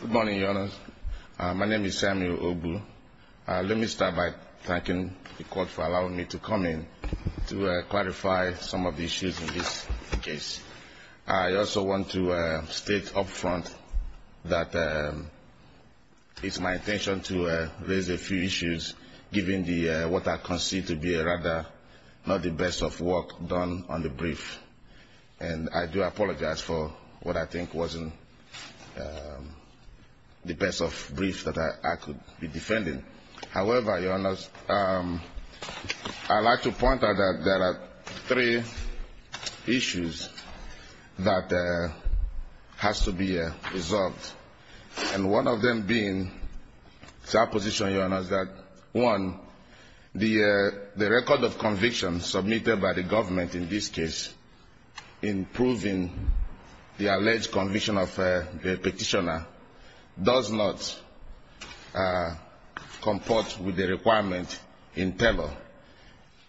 Good morning, Your Honor. My name is Samuel Ogu. Let me start by thanking the court for allowing me to come in to clarify some of the issues in this case. I also want to state up front that it's my intention to raise a few issues, given what I concede to be rather the best of work done on the brief. And I do apologize for what I think wasn't the best of briefs that I could be defending. However, Your Honor, I'd like to point out that there are three issues that has to be resolved. And one of them being, it's our position, Your Honor, is that, one, the record of conviction submitted by the government in this case in proving the alleged conviction of the petitioner does not comport with the requirement in Taylor.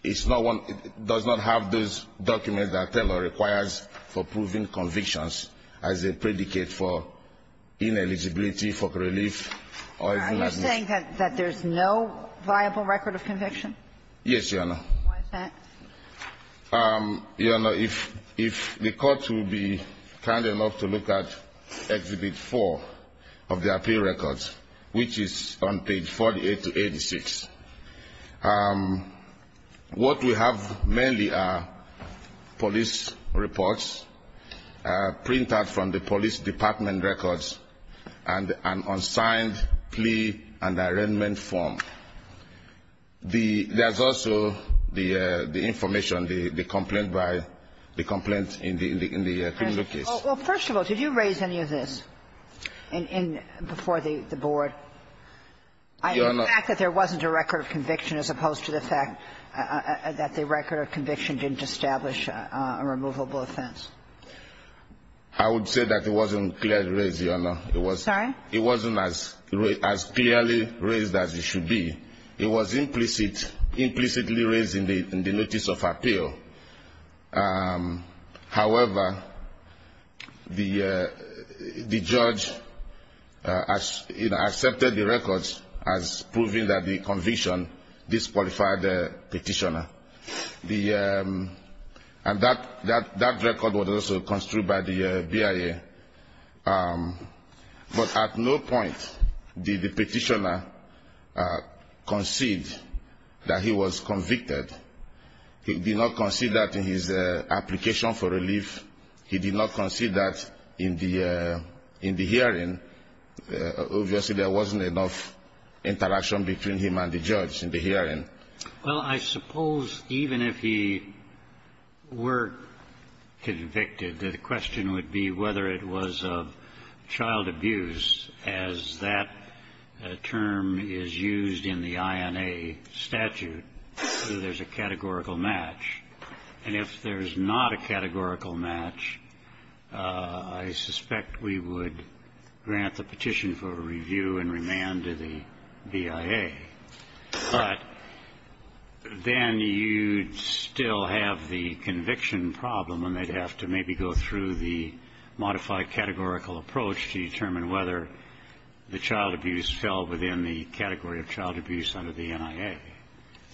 It's not one, it does not have those documents that Taylor requires for proving convictions as a predicate for ineligibility, for relief, or if not, not. Are you saying that there's no viable record of conviction? Yes, Your Honor. Why is that? Your Honor, if the court will be kind enough to look at Exhibit 4 of the appeal records, which is on page 48 to 86, what we have mainly are police reports, pre-trial reports, printed from the police department records, and an unsigned plea and arraignment form. There's also the information, the complaint by the complaint in the criminal case. Well, first of all, did you raise any of this before the Board? Your Honor. The fact that there wasn't a record of conviction as opposed to the fact that the record of conviction didn't establish a removable offense. I would say that it wasn't clearly raised, Your Honor. Sorry? It wasn't as clearly raised as it should be. It was implicitly raised in the notice of appeal. However, the judge accepted the records as proving that the conviction disqualified the petitioner. And that record was also construed by the BIA. But at no point did the petitioner concede that he was convicted. He did not concede that in his application for relief. He did not concede that in the hearing. Obviously, there wasn't enough interaction between him and the judge in the hearing. Well, I suppose even if he were convicted, the question would be whether it was of child abuse, as that term is used in the INA statute, so there's a categorical match. And if there's not a categorical match, I suspect we would grant the petition for review and remand to the BIA. But then you'd still have the conviction problem, and they'd have to maybe go through the modified categorical approach to determine whether the child abuse fell within the category of child abuse under the NIA.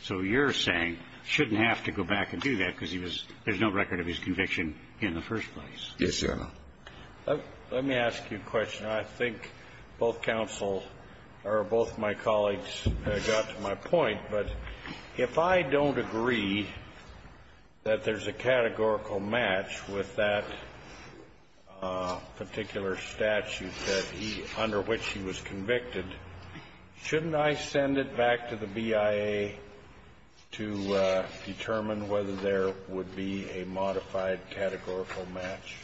So you're saying, shouldn't have to go back and do that, because he was, there's no record of his conviction in the first place. Yes, Your Honor. Let me ask you a question. I think both counsel, or both my colleagues got to my point, but if I don't agree that there's a categorical match with that particular statute that he under which he was convicted, shouldn't I send it back to the BIA to determine whether there would be a modified categorical match,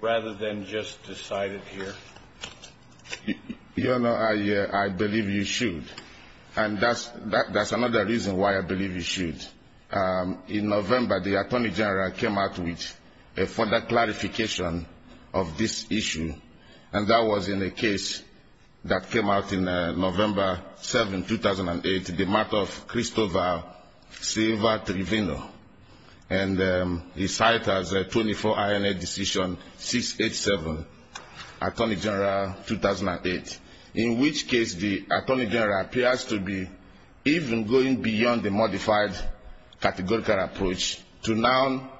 rather than just decide it here? Your Honor, I believe you should. And that's another reason why I believe you should. In November, the Attorney General came out with a further clarification of this issue, and that was in a case that came out in November 7, 2008, the murder of Christopher Silva Trevino. And he cited as a 24 INA decision 687, Attorney General 2008, in which case the Attorney General appears to be even going beyond the modified categorical approach to now,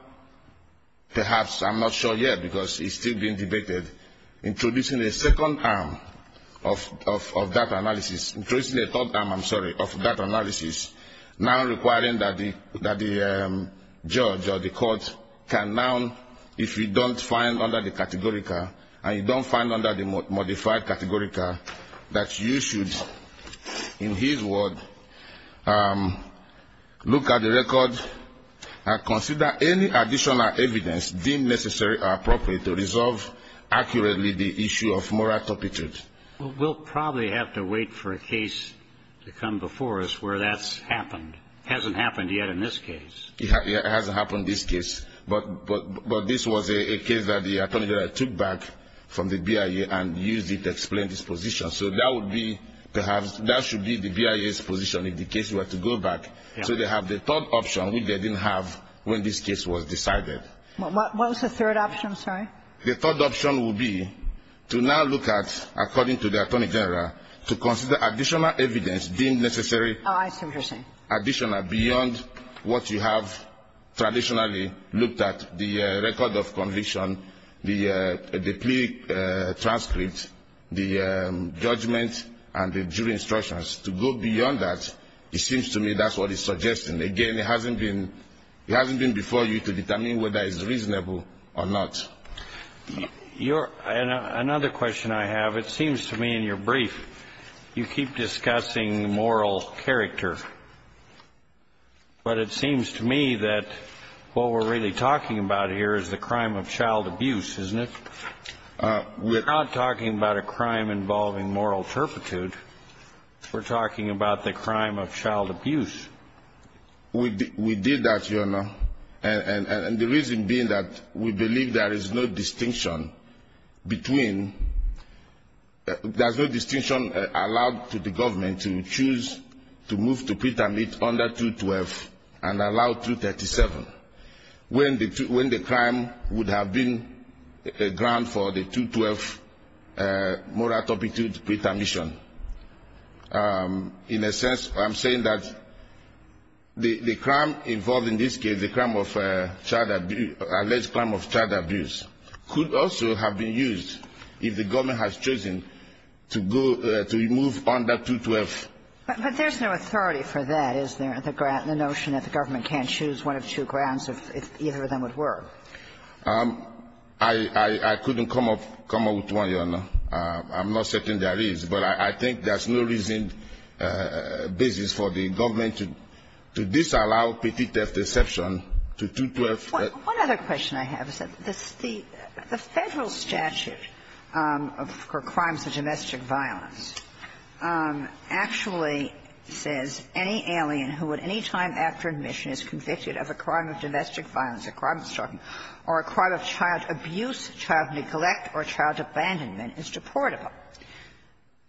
perhaps, I'm not sure yet, because it's still being debated, introducing a second arm of that analysis, I'm sorry, of that analysis, now requiring that the judge or the court can now, if you don't find under the categorical, and you don't find under the modified categorical, that you should, in his word, look at the record and consider any additional evidence deemed necessary or appropriate to resolve accurately the issue of moral turpitude. Well, we'll probably have to wait for a case to come before us where that's happened. Hasn't happened yet in this case. It hasn't happened in this case. But this was a case that the Attorney General took back from the BIA and used it to explain his position. So that would be, perhaps, that should be the BIA's position if the case were to go back. So they have the third option which they didn't have when this case was decided. What was the third option, I'm sorry? The third option would be to now look at, according to the Attorney General, to consider additional evidence deemed necessary. Oh, I see what you're saying. Additional, beyond what you have traditionally looked at, the record of conviction, the plea transcript, the judgment, and the jury instructions. To go beyond that, it seems to me that's what he's suggesting. Again, it hasn't been before you to determine whether it's reasonable or not. Another question I have, it seems to me in your brief, you keep discussing moral character. But it seems to me that what we're really talking about here is the crime of child abuse, isn't it? We're not talking about a crime involving moral turpitude. We're talking about the crime of child abuse. We did that, Your Honor. And the reason being that we believe there is no distinction between – there's no distinction allowed to the government to choose to move to pretermit under 212 and allow 237 when the crime would have been a ground for the 212 moral turpitude pretermission. In a sense, I'm saying that the crime involved in this case, the crime of child abuse, alleged crime of child abuse, could also have been used if the government has chosen to go – to move under 212. But there's no authority for that, is there, the notion that the government can't choose one of two grounds if either of them would work? I couldn't come up with one, Your Honor. I'm not certain there is. But I think there's no reason, basis for the government to disallow petiteft exception to 212. One other question I have is that the Federal statute for crimes of domestic violence actually says any alien who at any time after admission is convicted of a crime of domestic violence, a crime of child abuse, child neglect, or child abandonment is deportable.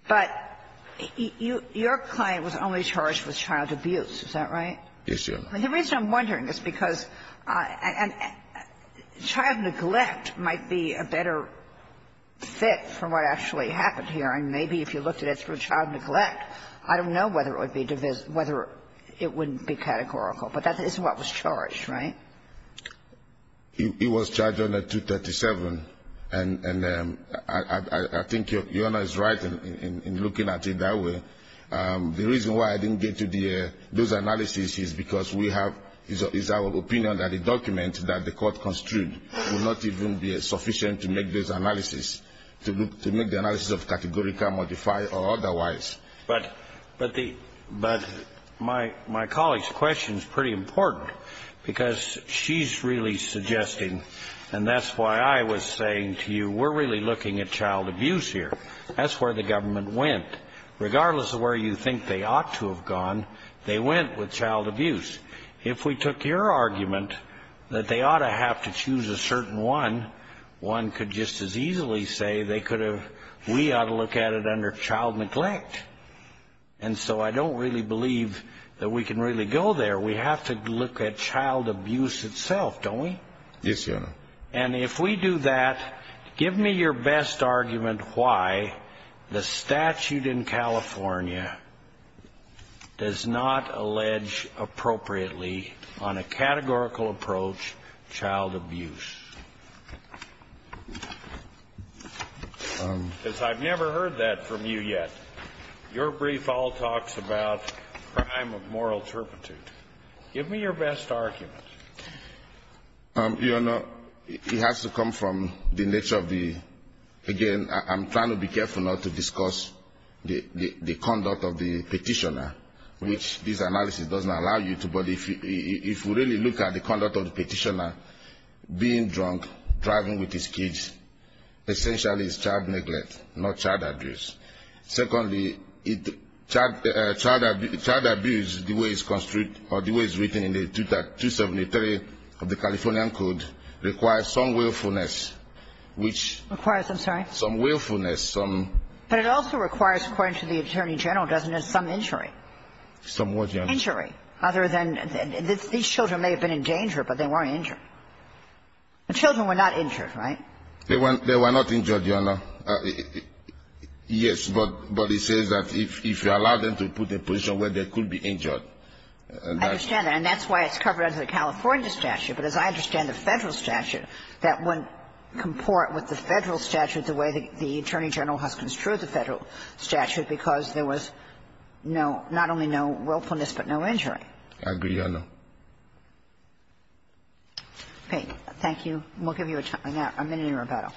But your client was only charged with child abuse, is that right? Yes, Your Honor. And the reason I'm wondering is because child neglect might be a better fit for what actually happened here. And maybe if you looked at it through child neglect, I don't know whether it would be – whether it wouldn't be categorical. But that is what was charged, right? It was charged under 237. And I think Your Honor is right in looking at it that way. The reason why I didn't get to those analyses is because we have – it's our opinion that the document that the court construed would not even be sufficient to make those analyses, to make the analyses of categorical, modified, or otherwise. But the – but my colleague's question is pretty important, because she's really suggesting – and that's why I was saying to you, we're really looking at child abuse here. That's where the government went. Regardless of where you think they ought to have gone, they went with child abuse. If we took your argument that they ought to have to choose a certain one, one could just as easily say they could have – we ought to look at it under child neglect. And so I don't really believe that we can really go there. We have to look at child abuse itself, don't we? Yes, Your Honor. And if we do that, give me your best argument why the statute in California does not allege appropriately on a categorical approach child abuse. Because I've never heard that from you yet. Your brief all talks about crime of moral turpitude. Give me your best argument. Your Honor, it has to come from the nature of the – again, I'm trying to be careful not to discuss the conduct of the Petitioner, which this analysis doesn't allow you to. But if we really look at the conduct of the Petitioner, being drunk, driving with his kids, essentially it's child neglect, not child abuse. Secondly, child abuse, the way it's written in the 273 of the Californian Code, requires some willfulness, which – Requires, I'm sorry? Some willfulness, some – But it also requires, according to the Attorney General, doesn't it, some injury? Some what, Your Honor? Injury, other than – these children may have been in danger, but they weren't injured. The children were not injured, right? They were not injured, Your Honor. Yes, but it says that if you allow them to put them in a position where they could be injured, and that's – I understand that. And that's why it's covered under the California statute. But as I understand the Federal statute, that wouldn't comport with the Federal statute the way the Attorney General has construed the Federal statute, because there was no not only no willfulness, but no injury. I agree, Your Honor. Okay. Thank you. And we'll give you a minute in rebuttal.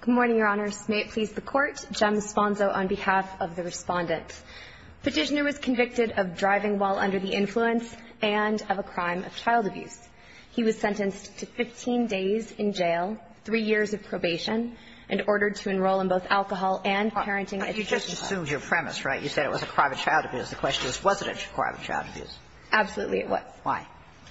Good morning, Your Honors. May it please the Court, Jem Sponzo on behalf of the Respondent. Petitioner was convicted of driving while under the influence and of a crime of child abuse. He was sentenced to 15 days in jail, three years of probation, and ordered to enroll in both alcohol and parenting education. You just assumed your premise, right? You said it was a crime of child abuse. The question is, was it a crime of child abuse? Absolutely, it was. Why?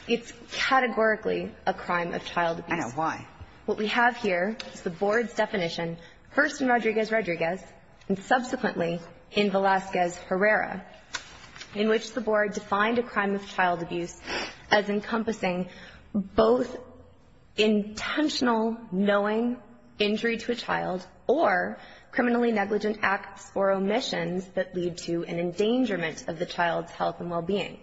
It's categorically a crime of child abuse. I know. Why? What we have here is the Board's definition, first in Rodriguez-Rodriguez and subsequently in Velazquez-Herrera, in which the Board defined a crime of child abuse as encompassing both intentional knowing, injury to a child, or criminally negligent acts or omissions that lead to an endangerment of the child's health and well-being.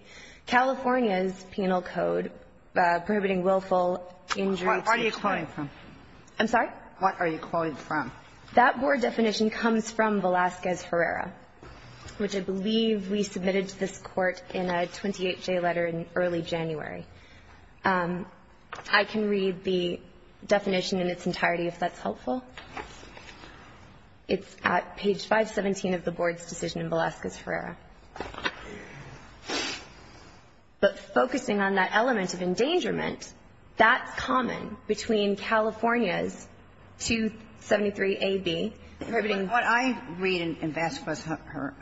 California's penal code prohibiting willful injury to a child. What are you quoting from? I'm sorry? What are you quoting from? That Board definition comes from Velazquez-Herrera, which I believe we submitted to this Court in a 28-J letter in early January. I can read the definition in its entirety if that's helpful. It's at page 517 of the Board's decision in Velazquez-Herrera. But focusing on that element of endangerment, that's common between California's 273a)(b), prohibiting the child's health and well-being. But what I read in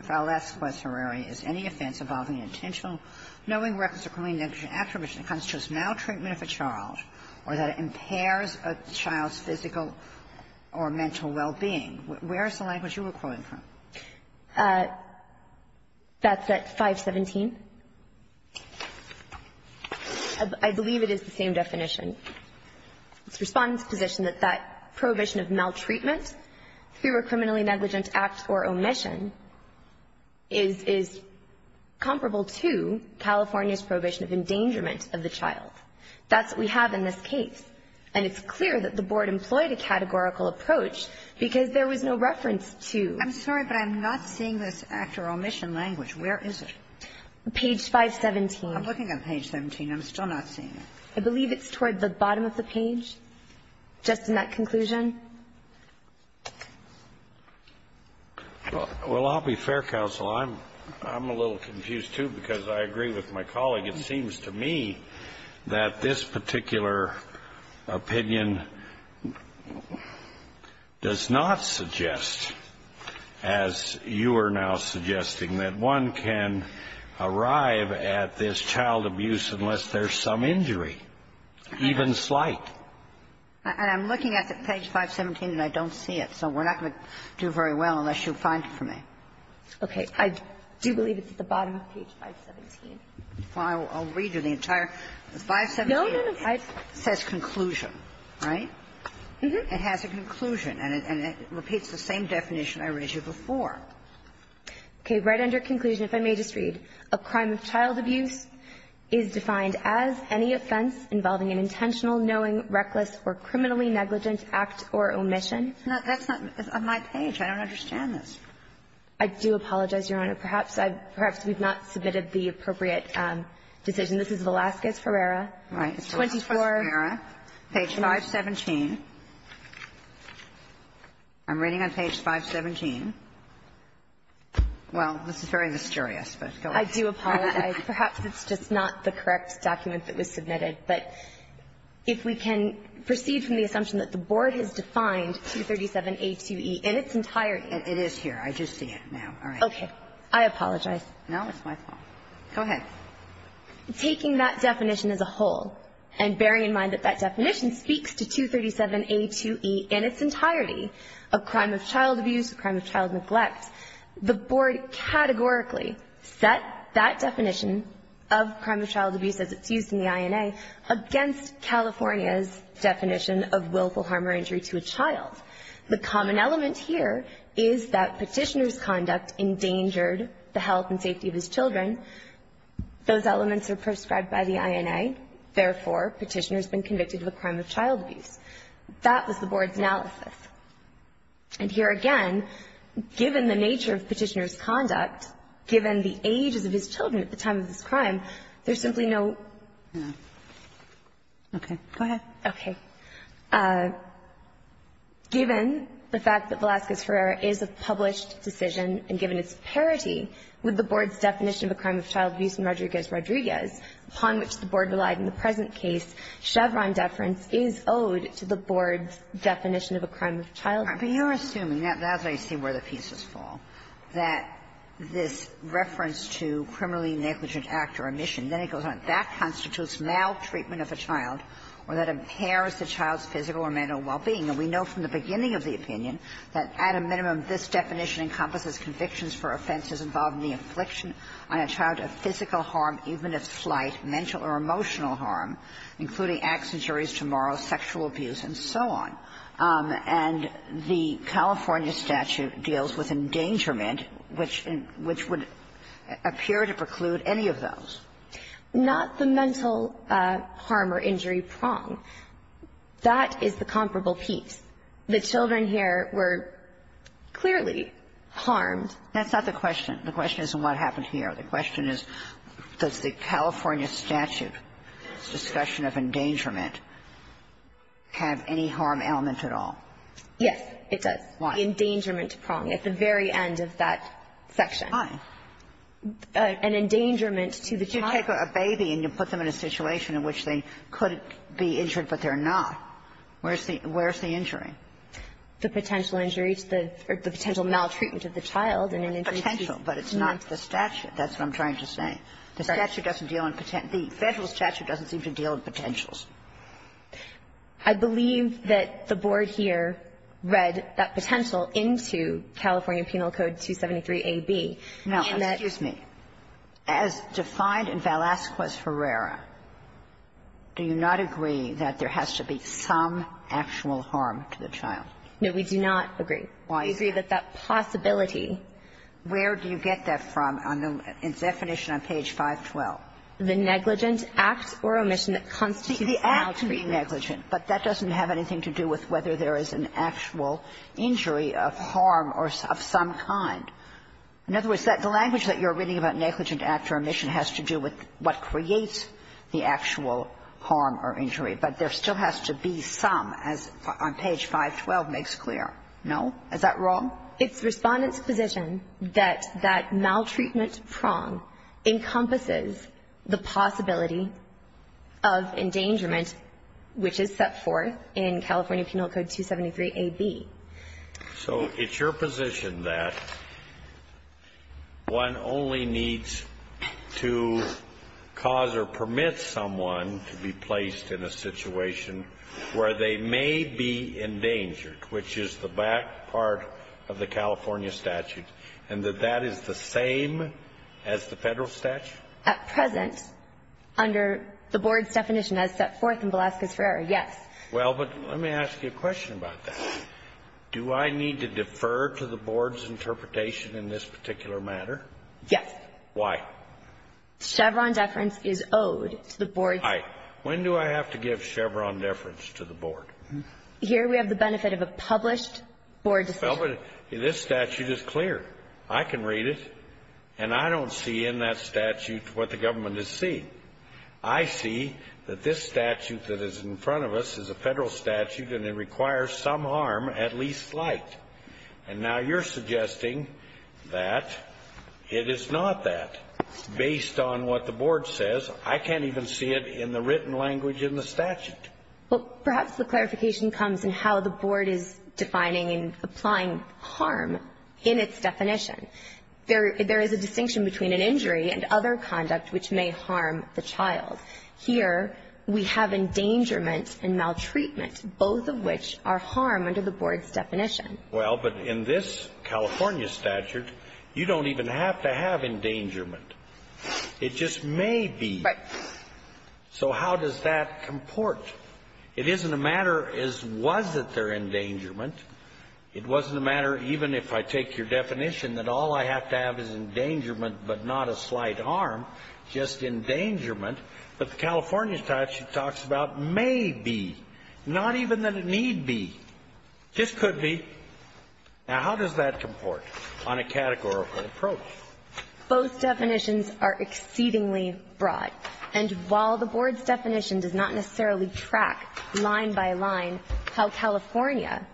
Velazquez-Herrera is any offense involving intentional knowing, records of criminally negligent acts or omissions that constitutes maltreatment of a child or that it impairs a child's physical or mental well-being. Where is the language you were quoting from? That's at 517. I believe it is the same definition. It's Respondent's position that that prohibition of maltreatment through a criminally negligent act or omission is comparable to California's prohibition of endangerment of the child. That's what we have in this case. And it's clear that the Board employed a categorical approach because there was no reference to that. I'm sorry, but I'm not seeing this act or omission language. Where is it? Page 517. I'm looking at page 17. I'm still not seeing it. I believe it's toward the bottom of the page, just in that conclusion. Well, I'll be fair, counsel. I'm a little confused, too, because I agree with my colleague. It seems to me that this particular opinion does not suggest, as you are now suggesting, that one can arrive at this child abuse unless there's some injury, even slight. And I'm looking at page 517, and I don't see it. So we're not going to do very well unless you find it for me. Okay. I do believe it's at the bottom of page 517. Well, I'll read you the entire 517. No, no, no. It says conclusion, right? Mm-hmm. It has a conclusion, and it repeats the same definition I read you before. Okay. Right under conclusion, if I may just read. A crime of child abuse is defined as any offense involving an intentional, knowing, reckless, or criminally negligent act or omission. I don't understand this. I do apologize, Your Honor. Perhaps I've – perhaps we've not submitted the appropriate decision. This is Velazquez-Ferreira. Right. Velazquez-Ferreira, page 517. I'm reading on page 517. Well, this is very mysterious, but go ahead. I do apologize. Perhaps it's just not the correct document that was submitted. But if we can proceed from the assumption that the Board has defined 237a2e in its entirety. It is here. I do see it now. All right. Okay. I apologize. No, it's my fault. Go ahead. Taking that definition as a whole, and bearing in mind that that definition speaks to 237a2e in its entirety, a crime of child abuse, a crime of child neglect, the Board categorically set that definition of crime of child abuse as it's used The common element here is that Petitioner's conduct endangered the health and safety of his children. Those elements are prescribed by the INA. Therefore, Petitioner's been convicted of a crime of child abuse. That was the Board's analysis. And here again, given the nature of Petitioner's conduct, given the ages of his children at the time of this crime, there's simply no – Okay. Go ahead. Okay. Given the fact that Velazquez-Ferrera is a published decision, and given its parity with the Board's definition of a crime of child abuse in Rodriguez-Rodriguez, upon which the Board relied in the present case, Chevron deference is owed to the Board's definition of a crime of child abuse. But you're assuming, as I see where the pieces fall, that this reference to criminally negligent act or omission, then it goes on, that constitutes maltreatment of a child or that impairs the child's physical or mental well-being. And we know from the beginning of the opinion that, at a minimum, this definition encompasses convictions for offenses involving the infliction on a child of physical harm, even if slight, mental or emotional harm, including accidents, injuries to morals, sexual abuse, and so on. And the California statute deals with endangerment, which would appear to preclude any of those. Not the mental harm or injury prong. That is the comparable piece. The children here were clearly harmed. That's not the question. The question isn't what happened here. The question is, does the California statute's discussion of endangerment have any harm element at all? Yes, it does. Why? The endangerment prong at the very end of that section. Why? An endangerment to the child. But you take a baby and you put them in a situation in which they could be injured, but they're not. Where's the injury? The potential injury to the or the potential maltreatment of the child and an injury to the child. Potential, but it's not the statute. That's what I'm trying to say. The statute doesn't deal in the federal statute doesn't seem to deal in potentials. I believe that the Board here read that potential into California Penal Code 273a)(b). Now, excuse me. As defined in Velazquez-Herrera, do you not agree that there has to be some actual harm to the child? No, we do not agree. Why? We agree that that possibility. Where do you get that from in definition on page 512? The negligent act or omission that constitutes maltreatment. The act can be negligent, but that doesn't have anything to do with whether there is an actual injury of harm or of some kind. In other words, the language that you're reading about negligent act or omission has to do with what creates the actual harm or injury. But there still has to be some, as on page 512 makes clear. No? Is that wrong? It's Respondent's position that that maltreatment prong encompasses the possibility of endangerment, which is set forth in California Penal Code 273a)(b). So it's your position that one only needs to cause or permit someone to be placed in a situation where they may be endangered, which is the back part of the California statute, and that that is the same as the Federal statute? At present, under the Board's definition as set forth in Velazquez-Ferrer, yes. Well, but let me ask you a question about that. Do I need to defer to the Board's interpretation in this particular matter? Yes. Why? Chevron deference is owed to the Board's definition. When do I have to give Chevron deference to the Board? Here we have the benefit of a published Board decision. Well, but this statute is clear. I can read it. And I don't see in that statute what the government is seeing. I see that this statute that is in front of us is a Federal statute, and it requires some harm, at least slight. And now you're suggesting that it is not that, based on what the Board says. I can't even see it in the written language in the statute. Well, perhaps the clarification comes in how the Board is defining and applying harm in its definition. There is a distinction between an injury and other conduct which may harm the child. Here we have endangerment and maltreatment, both of which are harm under the Board's definition. Well, but in this California statute, you don't even have to have endangerment. It just may be. Right. So how does that comport? It isn't a matter as was it their endangerment. It wasn't a matter, even if I take your definition, that all I have to have is endangerment, but not a slight harm, just endangerment. But the California statute talks about may be, not even that it need be. This could be. Now, how does that comport on a categorical approach? Both definitions are exceedingly broad. And while the Board's definition does not necessarily track line by line how California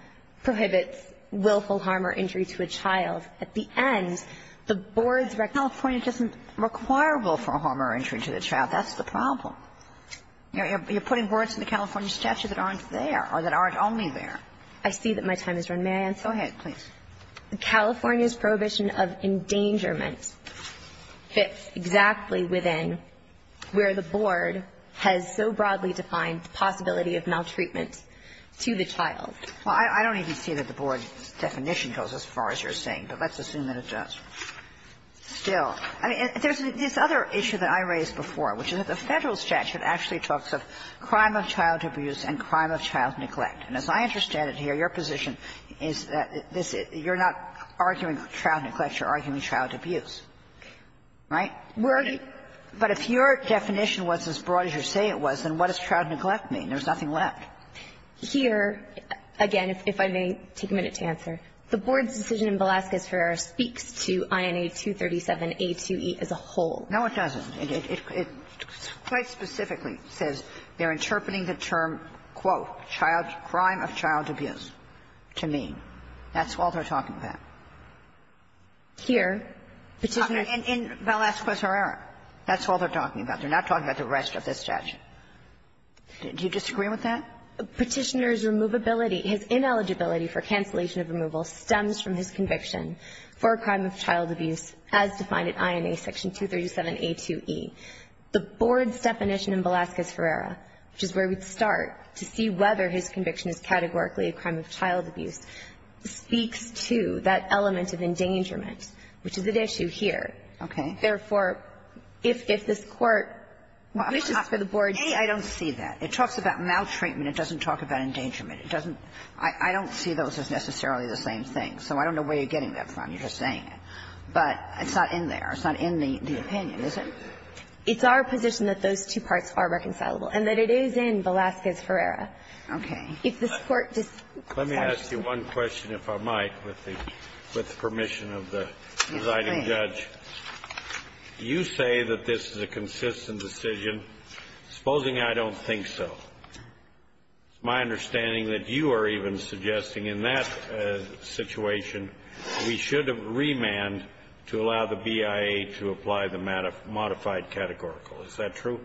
prohibits willful harm or injury to a child, at the end, the Board's recognition California doesn't require willful harm or injury to the child. That's the problem. You're putting words in the California statute that aren't there or that aren't only there. I see that my time has run. May I answer? Go ahead, please. California's prohibition of endangerment fits exactly within where the Board has so broadly defined the possibility of maltreatment to the child. Well, I don't even see that the Board's definition goes as far as you're saying, but let's assume that it does. Still, I mean, there's this other issue that I raised before, which is that the Federal statute actually talks of crime of child abuse and crime of child neglect. And as I understand it here, your position is that this you're not arguing child neglect, you're arguing child abuse, right? But if your definition was as broad as you say it was, then what does child neglect mean? There's nothing left. Here, again, if I may take a minute to answer, the Board's decision in Velazquez-Herrera speaks to INA 237a2e as a whole. No, it doesn't. It quite specifically says they're interpreting the term, quote, child crime of child abuse to mean. That's all they're talking about. Here, the decision is In Velazquez-Herrera, that's all they're talking about. They're not talking about the rest of the statute. Do you disagree with that? Petitioner's removability, his ineligibility for cancellation of removal stems from his conviction for a crime of child abuse as defined at INA 237a2e. The Board's definition in Velazquez-Herrera, which is where we'd start to see whether his conviction is categorically a crime of child abuse, speaks to that element of endangerment, which is at issue here. Okay. Therefore, if this Court wishes for the Board's to see that. I don't see that. It talks about maltreatment. It doesn't talk about endangerment. It doesn't – I don't see those as necessarily the same thing. So I don't know where you're getting that from. You're just saying it. But it's not in there. It's not in the opinion, is it? It's our position that those two parts are reconcilable and that it is in Velazquez-Herrera. Okay. If this Court decides to see it. Let me ask you one question, if I might, with the permission of the presiding judge. Yes, please. Do you say that this is a consistent decision? Supposing I don't think so. My understanding that you are even suggesting in that situation we should have remand to allow the BIA to apply the modified categorical. Is that true?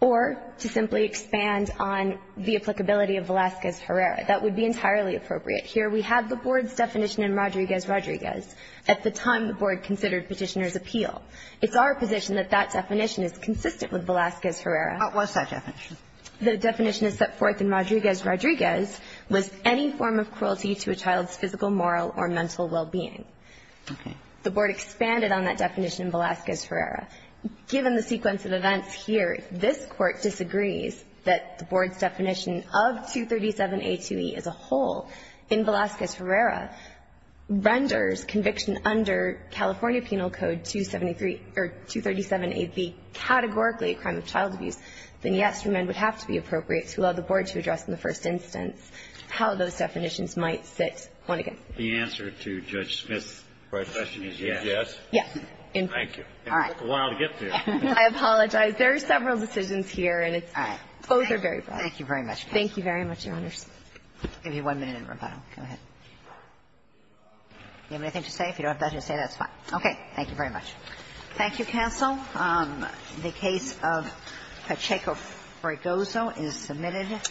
Or to simply expand on the applicability of Velazquez-Herrera. That would be entirely appropriate. Here we have the Board's definition in Rodriguez-Rodriguez at the time the Board considered Petitioner's appeal. It's our position that that definition is consistent with Velazquez-Herrera. What's that definition? The definition is set forth in Rodriguez-Rodriguez was any form of cruelty to a child's physical, moral, or mental well-being. Okay. The Board expanded on that definition in Velazquez-Herrera. Given the sequence of events here, if this Court disagrees that the Board's definition of 237a2e as a whole in Velazquez-Herrera renders conviction under California Penal Code 273 or 237a3 categorically a crime of child abuse, then yes, remand would have to be appropriate to allow the Board to address in the first instance how those definitions might sit one against the other. The answer to Judge Smith's question is yes? Yes. Yes. Thank you. All right. It took a while to get there. I apologize. There are several decisions here, and it's – both are very broad. Thank you very much. Thank you very much, Your Honors. I'll give you one minute in rebuttal. Go ahead. Do you have anything to say? If you don't have anything to say, that's fine. Okay. Thank you very much. Thank you, counsel. The case of Pacheco-Fragozo is submitted.